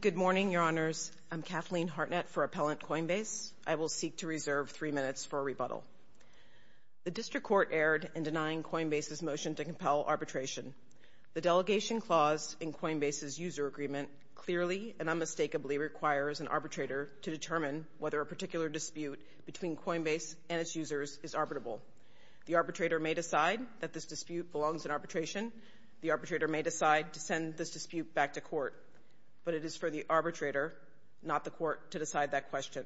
Good morning, Your Honors. I'm Kathleen Hartnett for Appellant Coinbase. I will seek to reserve three minutes for a rebuttal. The District Court erred in denying Coinbase's motion to compel arbitration. The delegation clause in Coinbase's user agreement clearly and unmistakably requires an arbitrator to determine whether a particular dispute between Coinbase and its users is arbitrable. The arbitrator may decide that this dispute belongs in arbitration. The arbitrator may decide to send this dispute back to court. But it is for the arbitrator, not the court, to decide that question.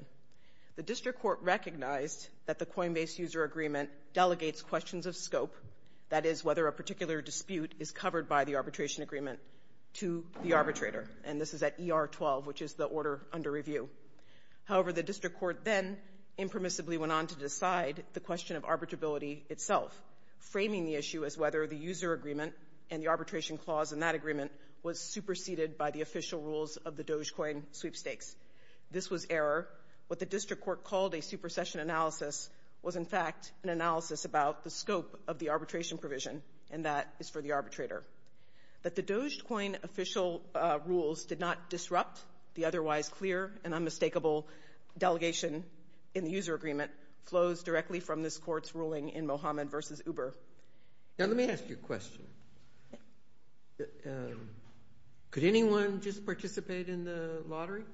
The District Court recognized that the Coinbase user agreement delegates questions of scope, that is, whether a particular dispute is covered by the arbitration agreement, to the arbitrator. And this is at ER 12, which is the order under review. However, the District Court then impermissibly went on to decide the question of arbitrability itself, framing the issue as whether the user agreement and the arbitration clause in that agreement was superseded by the official rules of the Dogecoin sweepstakes. This was error. What the District Court called a supersession analysis was, in fact, an analysis about the scope of the arbitration provision, and that is for the arbitrator. That the Dogecoin official rules did not disrupt the otherwise clear and unmistakable delegation in the user agreement flows directly from this court's ruling in Mohammed v. Uber. Now, let me ask you a question. Could anyone just participate in the lottery?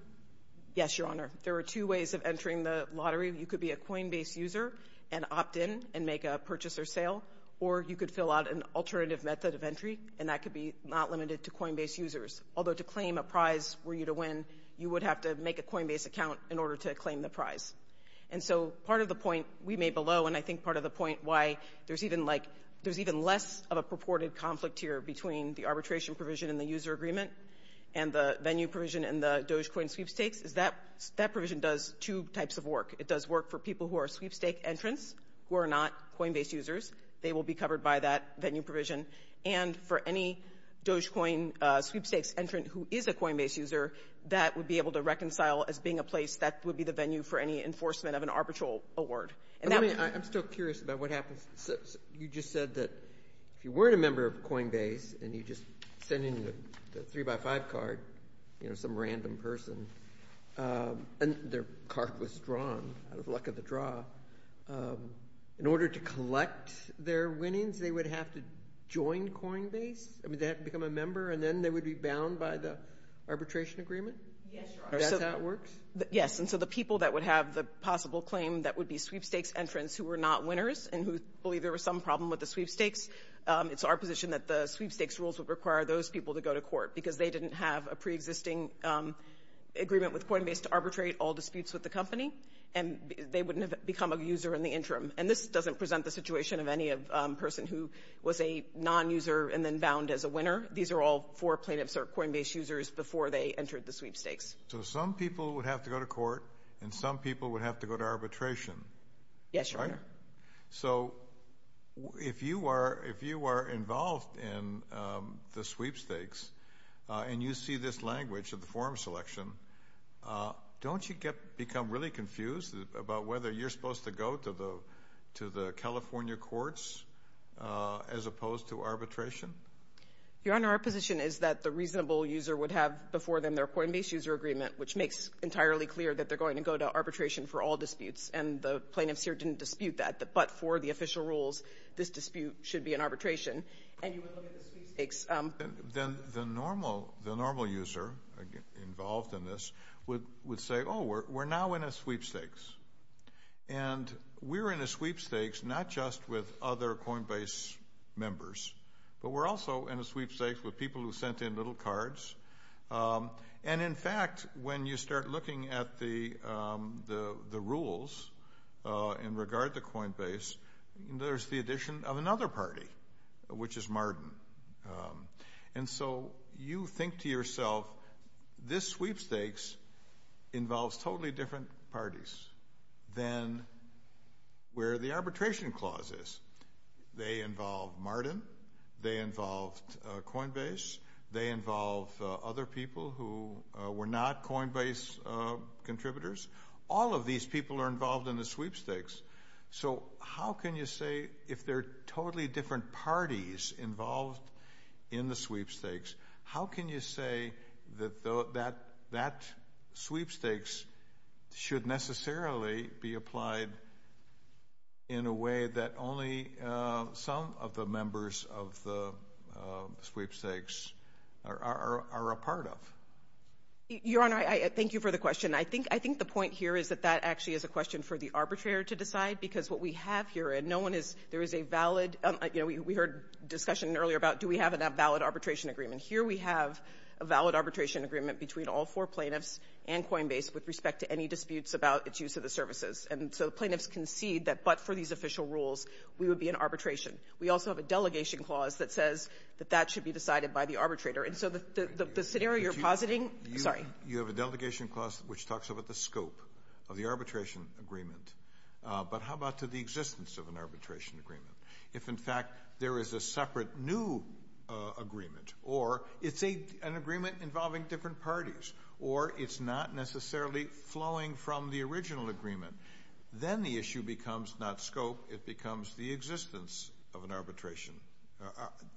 Yes, Your Honor. There are two ways of entering the lottery. You could be a Coinbase user and opt in and make a purchase or sale, or you could fill out an alternative method of entry, and that could be not limited to Coinbase users. Although, to claim a prize for you to win, you would have to make a Coinbase account in order to claim the prize. And so part of the point we made below, and I think part of the point why there's even, like, there's even less of a purported conflict here between the arbitration provision in the user agreement and the venue provision in the Dogecoin sweepstakes, is that that provision does two types of work. It does work for people who are sweepstake entrants who are not Coinbase users. They will be covered by that venue provision. And for any Dogecoin sweepstakes entrant who is a Coinbase user, that would be able to reconcile as being a place that would be the venue for any enforcement of an arbitral award. And that would be... I'm still curious about what happens. You just said that if you weren't a member of Coinbase and you just sent in the 3x5 card, you know, some random person, and their card was drawn out of luck of the draw, in order to collect their winnings, they would have to join Coinbase? I mean, they have to become a member, and then they would be bound by the arbitration agreement? Yes, Your Honor. That's how it works? Yes, and so the people that would have the possible claim that would be sweepstakes entrants who were not winners and who believe there was some problem with the sweepstakes, it's our position that the sweepstakes rules would require those people to go to court because they didn't have a preexisting agreement with Coinbase to arbitrate all disputes with the company, and they wouldn't have become a user in the interim. And this doesn't present the situation of any person who was a non-user and then bound as a winner. These are all four plaintiffs or Coinbase users before they entered the sweepstakes. So some people would have to go to court, and some people would have to go to arbitration. Yes, Your Honor. So if you are involved in the sweepstakes and you see this language of the forum selection, don't you become really confused about whether you're supposed to go to the California courts as opposed to arbitration? Your Honor, our position is that the reasonable user would have before them their Coinbase user agreement, which makes entirely clear that they're going to go to arbitration for all disputes, and the plaintiffs here didn't dispute that, but for the official rules, this dispute should be an arbitration. And you would look at the sweepstakes... Then the normal user involved in this would say, oh, we're now in a sweepstakes. And we're in a sweepstakes not just with other Coinbase members, but we're also in a sweepstakes with people who sent in little cards. And in fact, when you start looking at the rules in regard to Coinbase, there's the addition of another party, which is Marden. And so you think to yourself, this sweepstakes involves totally different parties than where the arbitration clause is. They involve Marden. They involve Coinbase. They involve other people who were not Coinbase contributors. All of these people are involved in the sweepstakes. So how can you say, if there are totally different parties involved in the sweepstakes, should necessarily be applied in a way that only some of the members of the sweepstakes are a part of? Your Honor, I thank you for the question. I think the point here is that that actually is a question for the arbitrator to decide. Because what we have here, and no one is... There is a valid... You know, we heard discussion earlier about, do we have a valid arbitration agreement? Here we have a valid arbitration agreement between all four plaintiffs and Coinbase with respect to any disputes about its use of the services. And so the plaintiffs concede that, but for these official rules, we would be in arbitration. We also have a delegation clause that says that that should be decided by the arbitrator. And so the scenario you're positing... I'm sorry. You have a delegation clause which talks about the scope of the arbitration agreement. But how about to the existence of an arbitration agreement? If, in fact, there is a separate new agreement, or it's an agreement involving different parties, or it's not necessarily flowing from the original agreement, then the issue becomes not scope. It becomes the existence of an arbitration.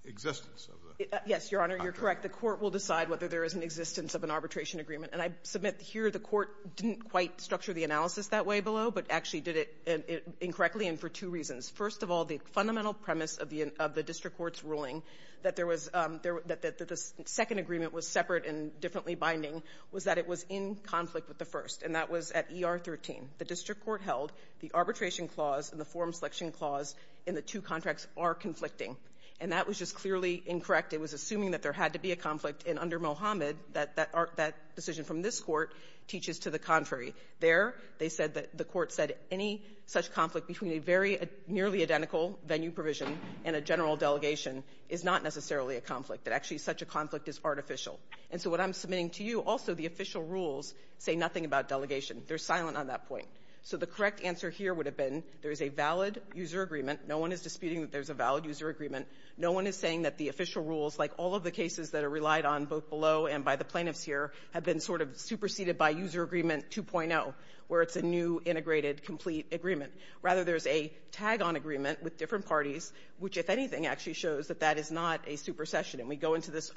Existence of the... Yes, Your Honor, you're correct. The Court will decide whether there is an existence of an arbitration agreement. And I submit here the Court didn't quite structure the analysis that way below, but actually did it incorrectly and for two reasons. First of all, the fundamental premise of the district court's ruling, that there was the second agreement was separate and differently binding, was that it was in conflict with the first. And that was at ER 13. The district court held the arbitration clause and the forum selection clause in the two contracts are conflicting. And that was just clearly incorrect. It was assuming that there had to be a conflict. And under Mohammed, that decision from this Court teaches to the contrary. There they said that the Court said any such conflict between a very nearly identical venue provision and a general delegation is not necessarily a conflict, that actually such a conflict is artificial. And so what I'm submitting to you, also the official rules say nothing about delegation. They're silent on that point. So the correct answer here would have been there is a valid user agreement. No one is disputing that there's a valid user agreement. No one is saying that the official rules, like all of the cases that are relied on, both below and by the plaintiffs here, have been sort of superseded by user agreement 2.0, where it's a new, integrated, complete agreement. Rather, there's a tag-on agreement with different parties, which, if anything, actually shows that that is not a supersession. And we go into this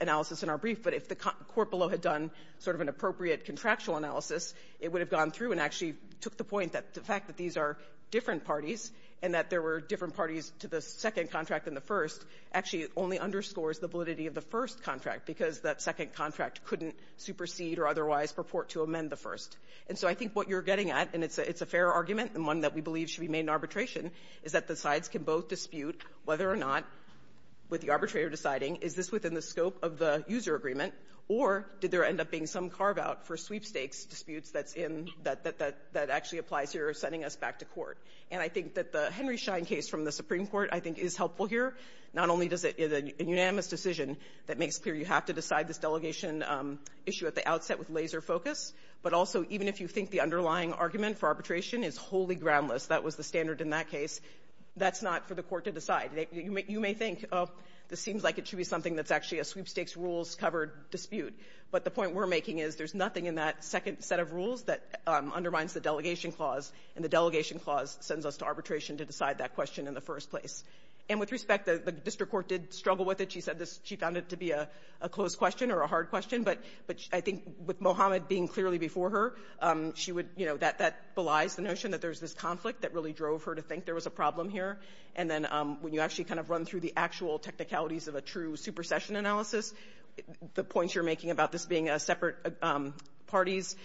analysis in our brief, but if the Court below had done sort of an appropriate contractual analysis, it would have gone through and actually took the point that the fact that these are different parties and that there were different parties to the second contract than the first actually only underscores the validity of the first contract, because that second contract couldn't supersede or otherwise purport to amend the first. And so I think what you're getting at, and it's a fair argument and one that we believe should be made in arbitration, is that the sides can both dispute whether or not, with the arbitrator deciding, is this within the scope of the user agreement, or did there end up being some carve-out for sweepstakes disputes that's in that actually applies here or is sending us back to court. And I think that the Henry Schein case from the Supreme Court, I think, is helpful here. Not only is it a unanimous decision that makes clear you have to decide this delegation issue at the outset with laser focus, but also even if you think the underlying argument for arbitration is wholly groundless, that was the standard in that case, that's not for the Court to decide. You may think, oh, this seems like it should be something that's actually a sweepstakes rules-covered dispute. But the point we're making is there's nothing in that second set of rules that undermines the delegation clause, and the delegation clause sends us to arbitration to decide that question in the first place. And with respect, the district court did struggle with it. She said this. She found it to be a closed question or a hard question, but I think with respect, that belies the notion that there's this conflict that really drove her to think there was a problem here. And then when you actually kind of run through the actual technicalities of a true supersession analysis, the points you're making about this being separate parties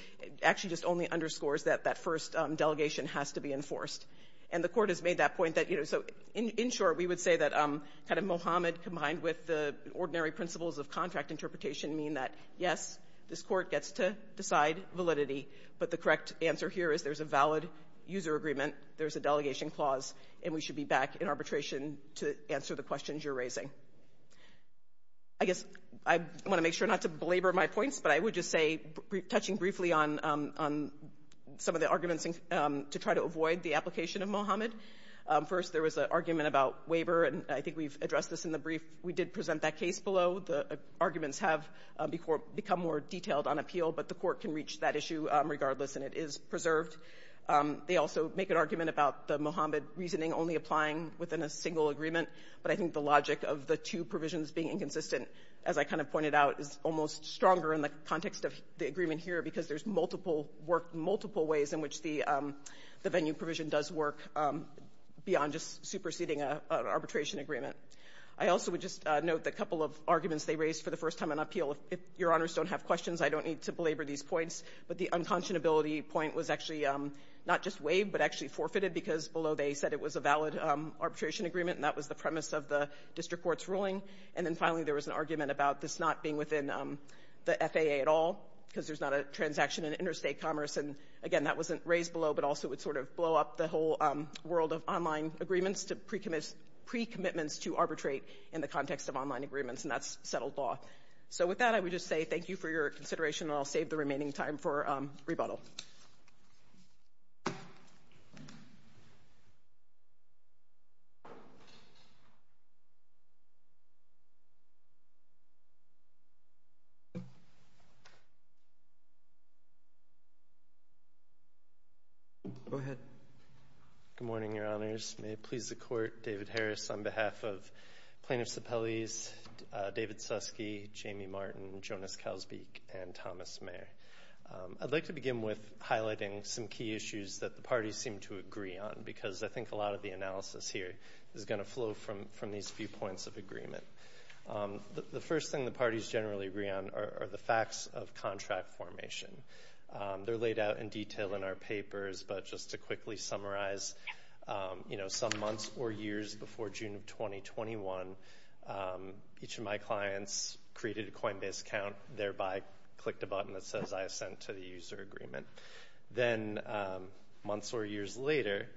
actually just only underscores that that first delegation has to be enforced. And the Court has made that point that, you know, so in short, we would say that kind of Mohammed combined with the ordinary principles of contract interpretation mean that, yes, this Court gets to decide validity, but the correct answer here is there's a valid user agreement, there's a delegation clause, and we should be back in arbitration to answer the questions you're raising. I guess I want to make sure not to belabor my points, but I would just say, touching briefly on some of the arguments to try to avoid the application of Mohammed. First, there was an argument about waiver, and I think we've addressed this in the brief. We did present that case below. The arguments have become more detailed on appeal, but the Court can reach that issue regardless, and it is a valid user agreement that is preserved. They also make an argument about the Mohammed reasoning only applying within a single agreement, but I think the logic of the two provisions being inconsistent, as I kind of pointed out, is almost stronger in the context of the agreement here because there's multiple work, multiple ways in which the venue provision does work beyond just superseding an arbitration agreement. I also would just note the couple of arguments they raised for the first time on appeal. If Your Honors don't have questions, I don't need to belabor these points, but the unconscionability point was actually not just waived, but actually forfeited because below they said it was a valid arbitration agreement, and that was the premise of the District Court's ruling. And then finally, there was an argument about this not being within the FAA at all because there's not a transaction in interstate commerce, and again, that wasn't raised below, but also it would sort of blow up the whole world of online agreements to pre-commitments to arbitrate in the context of online agreements, and that's settled law. So with that, I would just say thank you for your rebuttal. Go ahead. Good morning, Your Honors. May it please the Court, David Harris on behalf of Plaintiffs Appellees David Susky, Jamie Martin, Jonas Calsbeek, and I'll begin with highlighting some key issues that the parties seem to agree on because I think a lot of the analysis here is going to flow from these few points of agreement. The first thing the parties generally agree on are the facts of contract formation. They're laid out in detail in our papers, but just to quickly summarize, some months or years before June of 2021, each of my clients created a Coinbase account, thereby clicked a button that says I ascend to the user agreement. Then months or years later,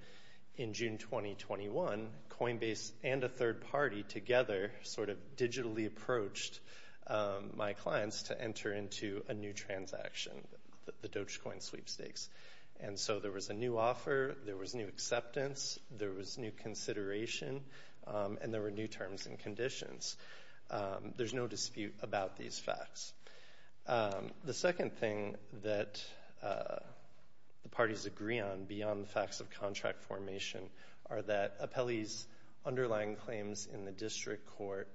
in June 2021, Coinbase and a third party together sort of digitally approached my clients to enter into a new transaction, the Dogecoin sweepstakes. And so there was a new offer, there was new acceptance, there was new consideration, and there were new terms and conditions. There's no dispute about these facts. The second thing that the parties agree on beyond the facts of contract formation are that appellees' underlying claims in the district court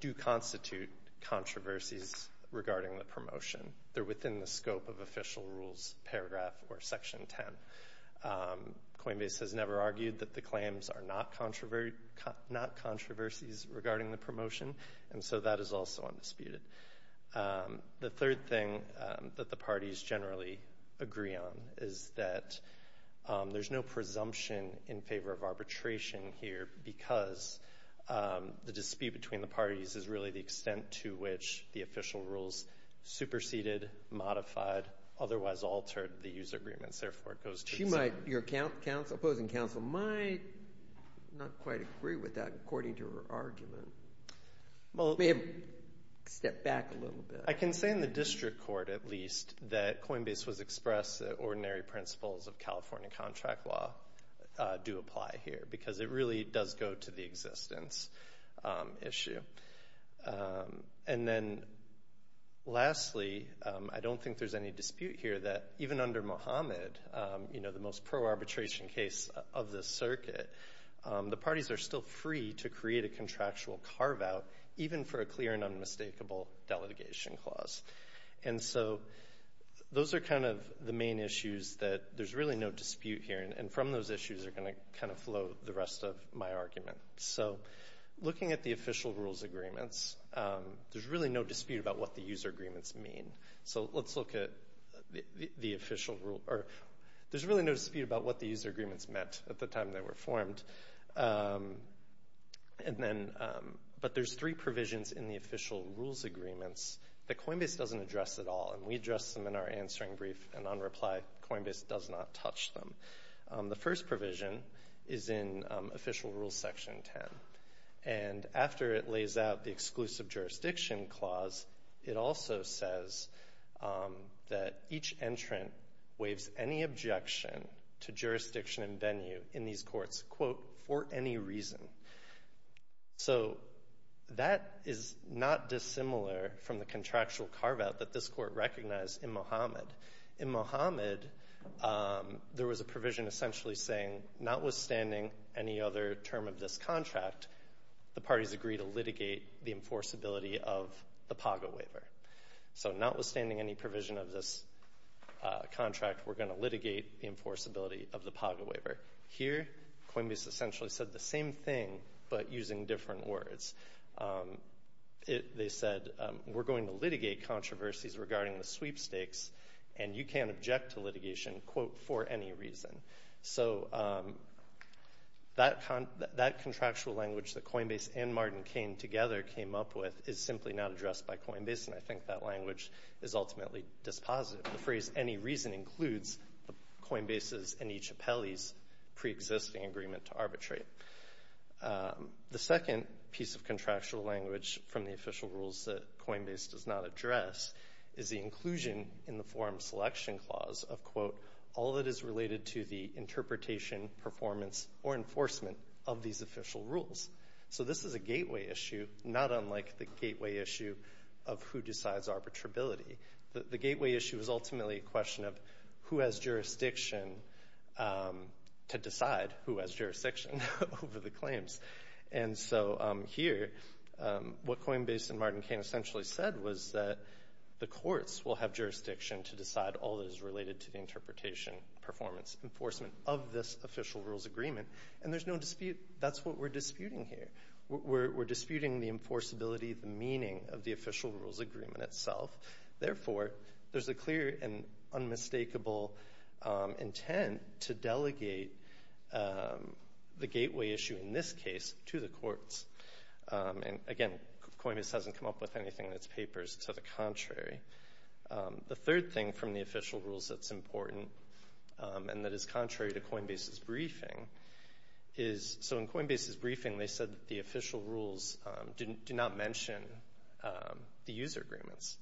do constitute controversies regarding the promotion. They're within the scope of official rules paragraph or section 10. Coinbase has never argued that the claims are not controversies regarding the promotion, and so that is also undisputed. The third thing that the parties generally agree on is that there's no presumption in favor of arbitration here because the dispute between the parties is really the extent to which the official rules superseded, modified, otherwise altered the user agreements. Therefore, it goes to the... Your opposing counsel might not quite agree with that according to her argument. Maybe step back a little bit. I can say in the district court, at least, that Coinbase was expressed that ordinary principles of California contract law do apply here because it really does go to the existence issue. And then lastly, I don't think there's any dispute here that even under Mohammed, the most pro-arbitration case of the circuit, the parties are still free to create a contractual carve-out even for a clear and unmistakable delegation clause. And so those are kind of the main issues that there's really no dispute here, and from those issues are going to kind of flow the rest of my argument. So looking at the official rules agreements, there's really no dispute about what the user agreements mean. So let's look at the official rule... There's really no dispute about what the court has performed. But there's three provisions in the official rules agreements that Coinbase doesn't address at all, and we address them in our answering brief, and on reply, Coinbase does not touch them. The first provision is in official rules section 10, and after it lays out the exclusive jurisdiction clause, it also says that each entrant waives any objection to jurisdiction and venue in these courts, quote, for any reason. So that is not dissimilar from the contractual carve-out that this court recognized in Mohammed. In Mohammed, there was a provision essentially saying, notwithstanding any other term of this contract, the parties agree to litigate the enforceability of the PAGA waiver. So notwithstanding any provision of this enforceability of the PAGA waiver. Here, Coinbase essentially said the same thing, but using different words. They said, we're going to litigate controversies regarding the sweepstakes, and you can't object to litigation, quote, for any reason. So that contractual language that Coinbase and Martin came together came up with is simply not addressed by Coinbase, and I think that language is ultimately dispositive. The phrase for any reason includes Coinbase's and each appellee's pre-existing agreement to arbitrate. The second piece of contractual language from the official rules that Coinbase does not address is the inclusion in the forum selection clause of, quote, all that is related to the interpretation, performance, or enforcement of these official rules. So this is a gateway issue, not unlike the gateway issue of who decides arbitrability. The gateway issue is ultimately a question of who has jurisdiction to decide who has jurisdiction over the claims. And so here, what Coinbase and Martin Kane essentially said was that the courts will have jurisdiction to decide all that is related to the interpretation, performance, enforcement of this official rules agreement, and there's no dispute. That's what we're disputing here. We're disputing the enforceability, the meaning of the agreement. Therefore, there's a clear and unmistakable intent to delegate the gateway issue in this case to the courts. And again, Coinbase hasn't come up with anything in its papers to the contrary. The third thing from the official rules that's important and that is contrary to Coinbase's briefing is, so in Coinbase's briefing they said that the official rules do not mention the user agreements.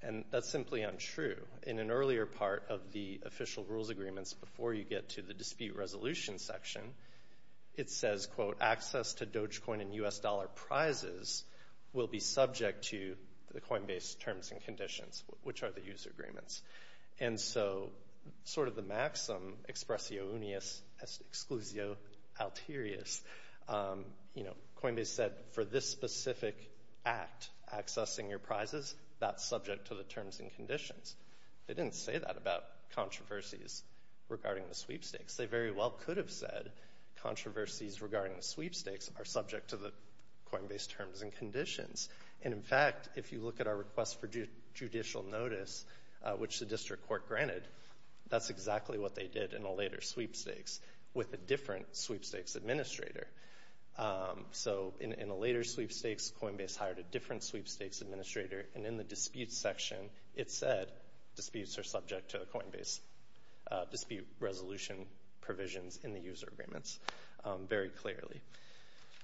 And that's simply untrue. In an earlier part of the official rules agreements, before you get to the dispute resolution section, it says, quote, access to Dogecoin and U.S. dollar prizes will be subject to the Coinbase terms and conditions, which are the user agreements. And so, sort of the maxim, expressio unius, exclusio alterius, you know, Coinbase said for this specific act, accessing your prizes, that's subject to the terms and conditions. They didn't say that about controversies regarding the sweepstakes. They very well could have said controversies regarding the sweepstakes are subject to the Coinbase terms and conditions. And in fact, if you look at our request for judicial notice, which the district court granted, that's exactly what they did in a later sweepstakes with a different sweepstakes administrator. So, in a later sweepstakes, Coinbase hired a different sweepstakes administrator, and in the dispute section, it said disputes are subject to the Coinbase dispute resolution provisions in the user agreements very clearly.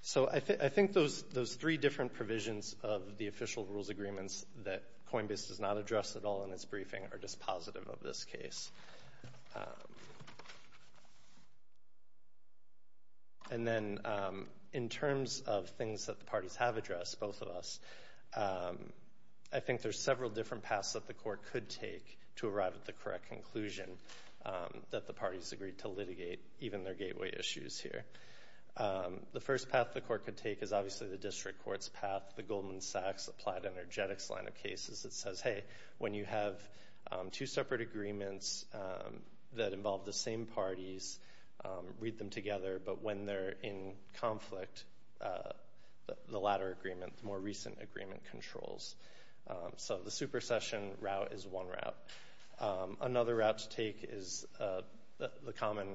So, I think those three different provisions of the official rules agreements that Coinbase does not address at all in its briefing are dispositive of this case. And then, in terms of things that the parties have addressed, both of us, I think there's several different paths that the court could take to arrive at the correct conclusion that the parties agreed to litigate, even their gateway issues here. The first path the court could take is obviously the district court's path, the Goldman Sachs applied energetics line of cases that says, hey, when you have two separate agreements that involve the same parties, read them together, but when they're in conflict, the latter agreement, the more recent agreement controls. So, the supercession route is one route. Another route to take is the common,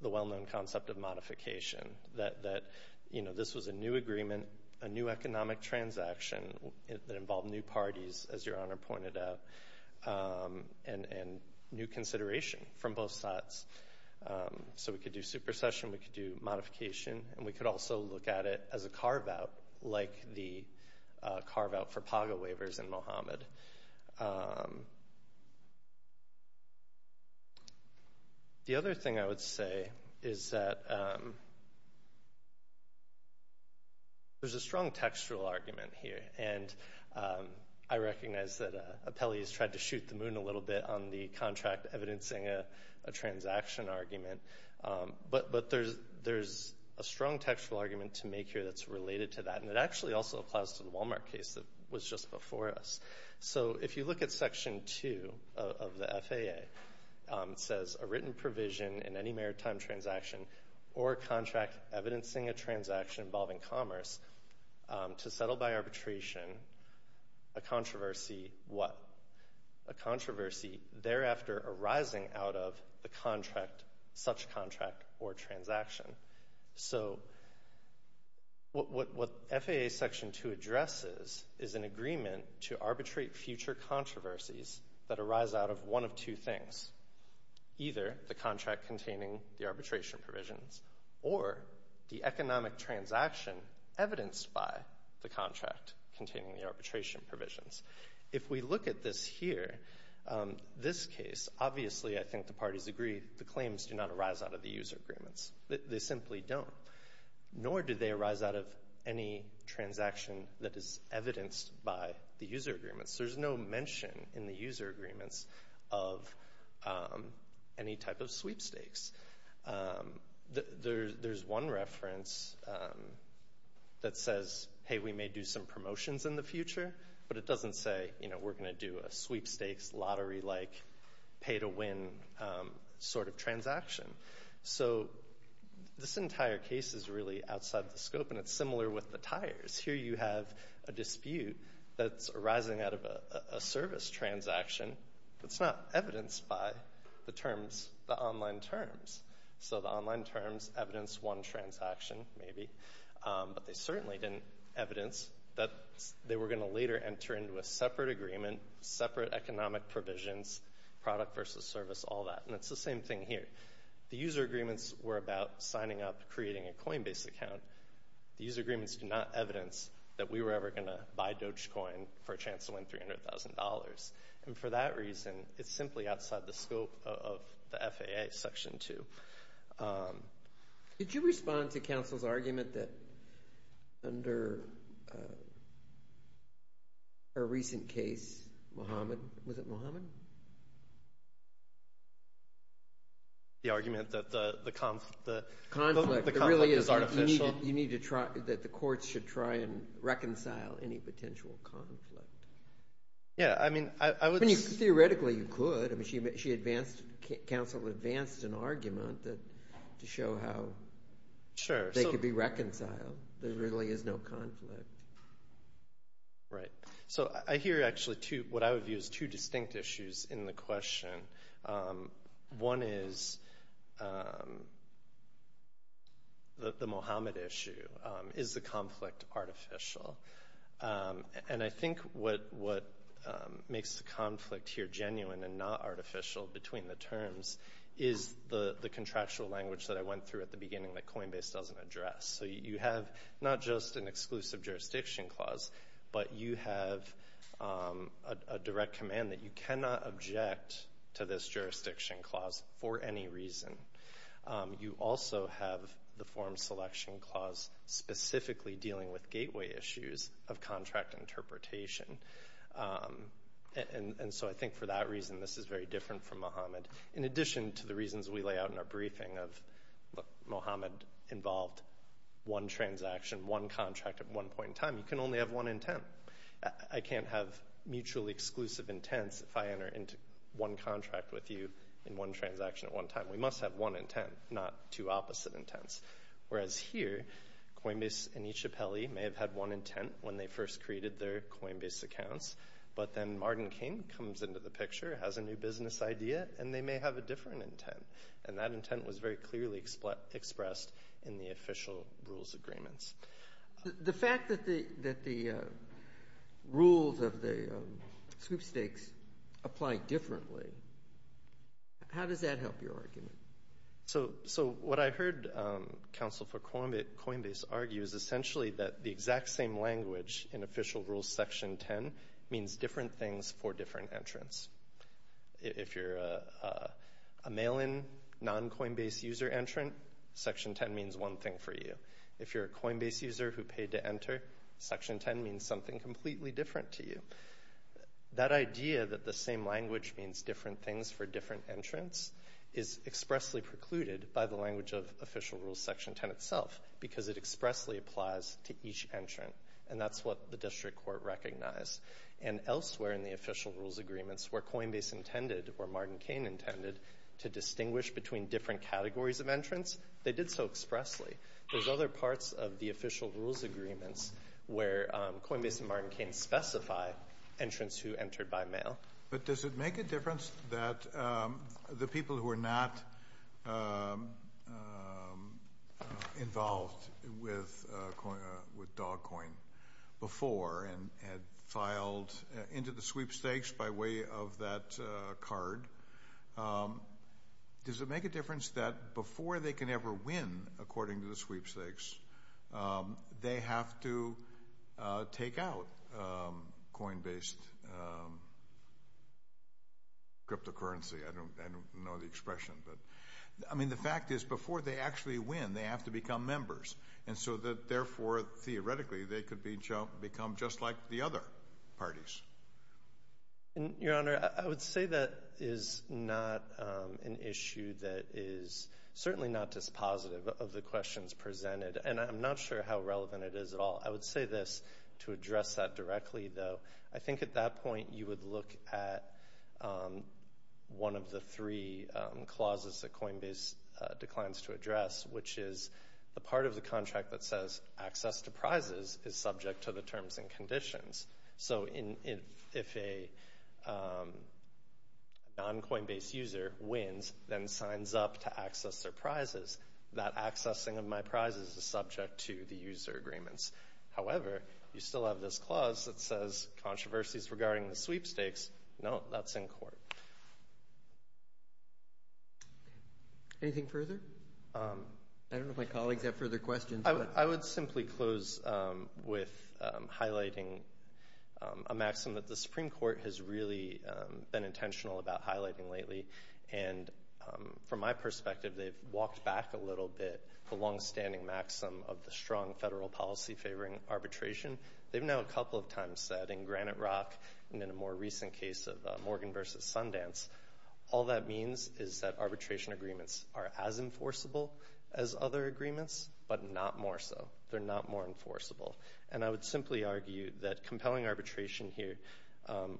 the well-known concept of modification, that this was a new agreement, a new economic transaction that involved new parties, as your Honor pointed out, and new consideration from both sides. So, we could do supercession, we could do modification, and we could also look at it as a carve-out, like the carve-out for paga waivers in Mohammed. The other thing I would say is that there's a strong textual argument here, and I recognize that Apelli has tried to shoot the moon a little bit on the contract evidencing a transaction argument, but there's a strong textual argument to make here that's related to that, and it actually also applies to the Walmart case that was just before us. So, if you look at Section 2 of the FAA, it says, a written provision in any maritime transaction or contract evidencing a transaction involving commerce to settle by arbitration a controversy, what? A controversy thereafter arising out of the contract, such contract or transaction. So, what FAA Section 2 addresses is an agreement to arbitrate future controversies that arise out of one of two things. Either the contract containing the arbitration provisions or the economic transaction evidenced by the contract containing the arbitration provisions. If we look at this here, this case, obviously I think the parties agree the claims do not arise out of the user agreements. They simply don't. Nor do they arise out of any transaction that is evidenced by the user agreements. There's no mention in the user agreements of any type of sweepstakes. There's one reference that says, hey, we may do some promotions in the future, but it doesn't say, you know, we're going to do a sweepstakes lottery-like pay-to-win sort of transaction. So, this entire case is really outside the scope, and it's similar with the tires. Here you have a dispute that's arising out of a service transaction that's not evidenced by the terms, the online terms. So, the online terms evidence one transaction, maybe, but they certainly didn't evidence that they were going to later enter into a separate agreement, separate economic provisions, product versus service, all that. And it's the same thing here. The user agreements were about signing up, creating a Coinbase account. The user agreements do not evidence that we were ever going to buy Dogecoin for a chance to win $300,000. And for that reason, it's simply outside the scope of the FAA Section 2. Did you respond to counsel's argument that under a recent case, Mohamed, was it Mohamed? The argument that the conflict is artificial. You need to try, that the courts should try and reconcile any potential conflict. Theoretically, you could. Counsel advanced an argument to show how they could be reconciled. There really is no conflict. Right. So, I hear, actually, what I would view as two distinct issues in the question. One is the Mohamed issue. Is the conflict artificial? And I think what makes the conflict here genuine and not artificial between the terms is the contractual language that I went through at the beginning that Coinbase doesn't address. So you have not just an exclusive jurisdiction clause, but you have a direct command that you cannot object to this jurisdiction clause for any reason. You also have the form selection clause specifically dealing with gateway issues of contract interpretation. And so I think for that reason, this is very different from Mohamed. In addition to the reasons we lay out in our briefing of Mohamed involved one transaction, one contract at one point in time, you can only have one intent. I can't have mutually exclusive intents if I enter into one contract with you in one transaction at one time. We must have one intent, not two opposite intents. Whereas here, Coinbase and each appellee may have had one intent when they first created their Coinbase accounts, but then Martin King comes into the picture, has a new business idea, and they may have a different intent. And that intent was very clearly expressed in the official rules agreements. The fact that the rules of the sweepstakes apply differently, how does that help your argument? So what I heard Council for Coinbase argue is essentially that the exact same language in official rules section 10 means different things for different entrants. If you're a mail-in, non-Coinbase user entrant, section 10 means one thing for you. If you're a Coinbase user who paid to enter, section 10 means something completely different to you. That idea that the same language means different things for different entrants is expressly precluded by the language of official rules section 10 itself, because it expressly applies to each entrant, and that's what the district court recognized. And elsewhere in the official rules agreements where Coinbase intended or Martin King intended to distinguish between different categories of entrants, they did so expressly. There's other parts of the official rules agreements where Coinbase and Martin King specify entrants who entered by mail. But does it make a difference that the people who are not involved with DogCoin before and had filed into the sweepstakes by way of that card, does it make a difference that before they can ever win according to the sweepstakes, they have to take out Coinbase cryptocurrency? I don't know the expression. I mean, the fact is, before they actually win, they have to become members, and so therefore, theoretically, they could become just like the other parties. Your Honor, I would say that is not an issue that is certainly not dispositive of the questions presented, and I'm not sure how relevant it is at all. I would say this to address that directly, though. I think at that point, you would look at one of the three clauses that Coinbase declines to address, which is the part of the contract that says access to prizes is subject to the terms and conditions. So if a non-Coinbase user wins, then signs up to accessing of my prizes is subject to the user agreements. However, you still have this clause that says controversies regarding the sweepstakes. No, that's in court. Anything further? I don't know if my colleagues have further questions. I would simply close with highlighting a maxim that the Supreme Court has really been intentional about highlighting lately, and from my perspective, the longstanding maxim of the strong federal policy favoring arbitration. They've now a couple of times said in Granite Rock, and in a more recent case of Morgan v. Sundance, all that means is that arbitration agreements are as enforceable as other agreements, but not more so. They're not more enforceable. And I would simply argue that compelling arbitration here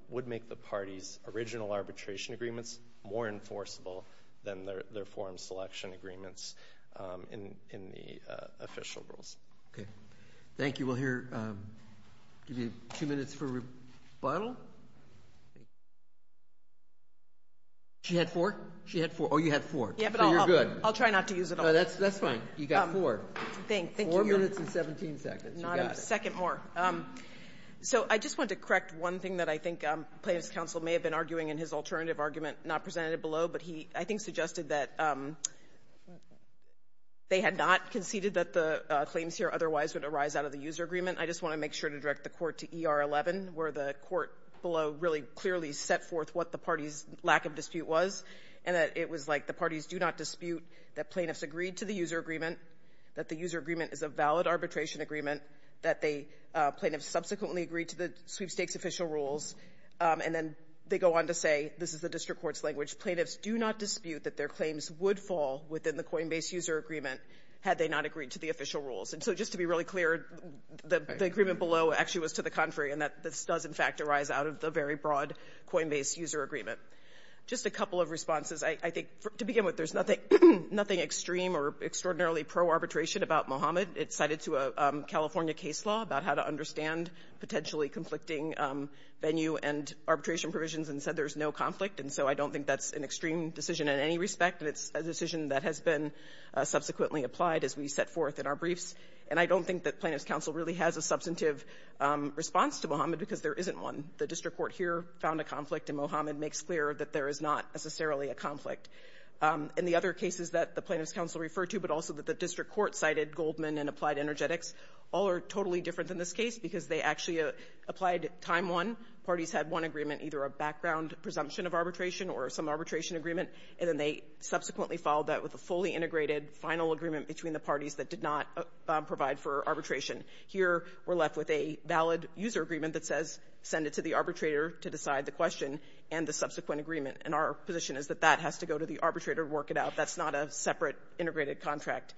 would make the parties' original arbitration agreements more enforceable than their reform selection agreements in the official rules. Okay. Thank you. We'll hear two minutes for rebuttal. She had four? She had four. Oh, you had four. So you're good. I'll try not to use it all. That's fine. You got four. Four minutes and 17 seconds. You got it. Not a second more. So I just want to correct one thing that I think Plaintiff's counsel may have been arguing in his alternative argument not presented below, but he, I think, suggested that they had not conceded that the claims here otherwise would arise out of the user agreement. I just want to make sure to direct the Court to ER11, where the Court below really clearly set forth what the parties' lack of dispute was, and that it was like the parties do not dispute that plaintiffs agreed to the user agreement, that the user agreement is a valid arbitration agreement, that they, plaintiffs subsequently agreed to the sweepstakes official rules, and then they go on to say, this is the district court's language, plaintiffs do not dispute that their claims would fall within the coinbase user agreement had they not agreed to the official rules. And so just to be really clear, the agreement below actually was to the contrary, and that this does, in fact, arise out of the very broad coinbase user agreement. Just a couple of responses. I think, to begin with, there's nothing extreme or extraordinarily pro-arbitration about Mohammed. It's cited to a California case law about how to understand potentially conflicting venue and arbitration provisions and said there's no conflict. And so I don't think that's an extreme decision in any respect, and it's a decision that has been subsequently applied as we set forth in our briefs. And I don't think that Plaintiffs' Counsel really has a substantive response to Mohammed because there isn't one. The district court here found a conflict, and Mohammed makes clear that there is not necessarily a conflict. In the other cases that the Plaintiffs' Counsel referred to, but also that the district court cited, Goldman and Applied Energetics, all are totally different than this case because they actually applied time one. Parties had one agreement, either a background presumption of arbitration or some arbitration agreement, and then they subsequently followed that with a fully integrated final agreement between the parties that did not provide for arbitration. Here, we're left with a valid user agreement that says send it to the arbitrator to decide the question and the subsequent agreement. And our position is that that has to go to the arbitrator to work it out. That's not a separate integrated contract.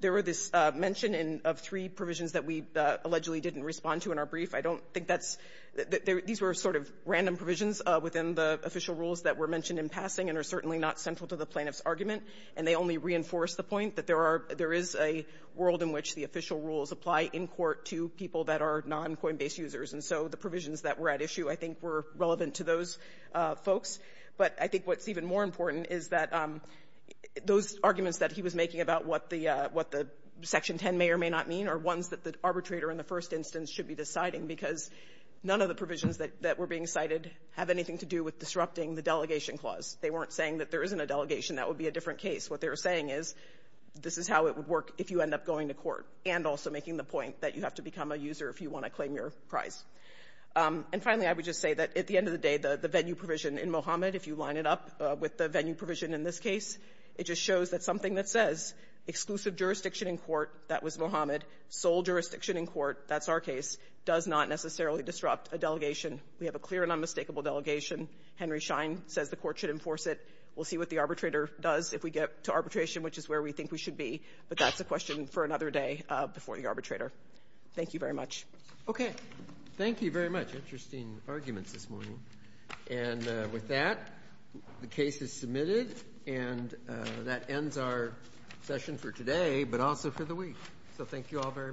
There were this mention in of three provisions that we allegedly didn't respond to in our brief. I don't think that's the — these were sort of random provisions within the official rules that were mentioned in passing and are certainly not central to the plaintiff's argument. And they only reinforce the point that there are — there is a world in which the official rules apply in court to people that are non-Coinbase users. And so the provisions that were at issue I think were relevant to those folks. But I think what's even more important is that those arguments that he was making about what the — what the Section 10 may or may not mean are ones that the arbitrator in the first instance should be deciding because none of the provisions that were being cited have anything to do with disrupting the delegation clause. They weren't saying that there isn't a delegation. That would be a different case. What they were saying is this is how it would work if you end up going to court and also making the point that you have to become a user if you want to claim your prize. And finally, I would just say that at the end of the day, the venue provision in Mohammed, if you line it up with the venue provision in this case, it just shows that something that says exclusive jurisdiction in court, that was Mohammed, sole jurisdiction in court, that's our case, does not necessarily disrupt a delegation. We have a clear and unmistakable delegation. Henry Schein says the court should enforce it. We'll see what the arbitrator does if we get to arbitration, which is where we think we should be. But that's a question for another day before the arbitrator. Thank you very much. Okay. Thank you very much. Interesting arguments this morning. And with that, the case is submitted, and that ends our session for today, but also for the week. So thank you all very much.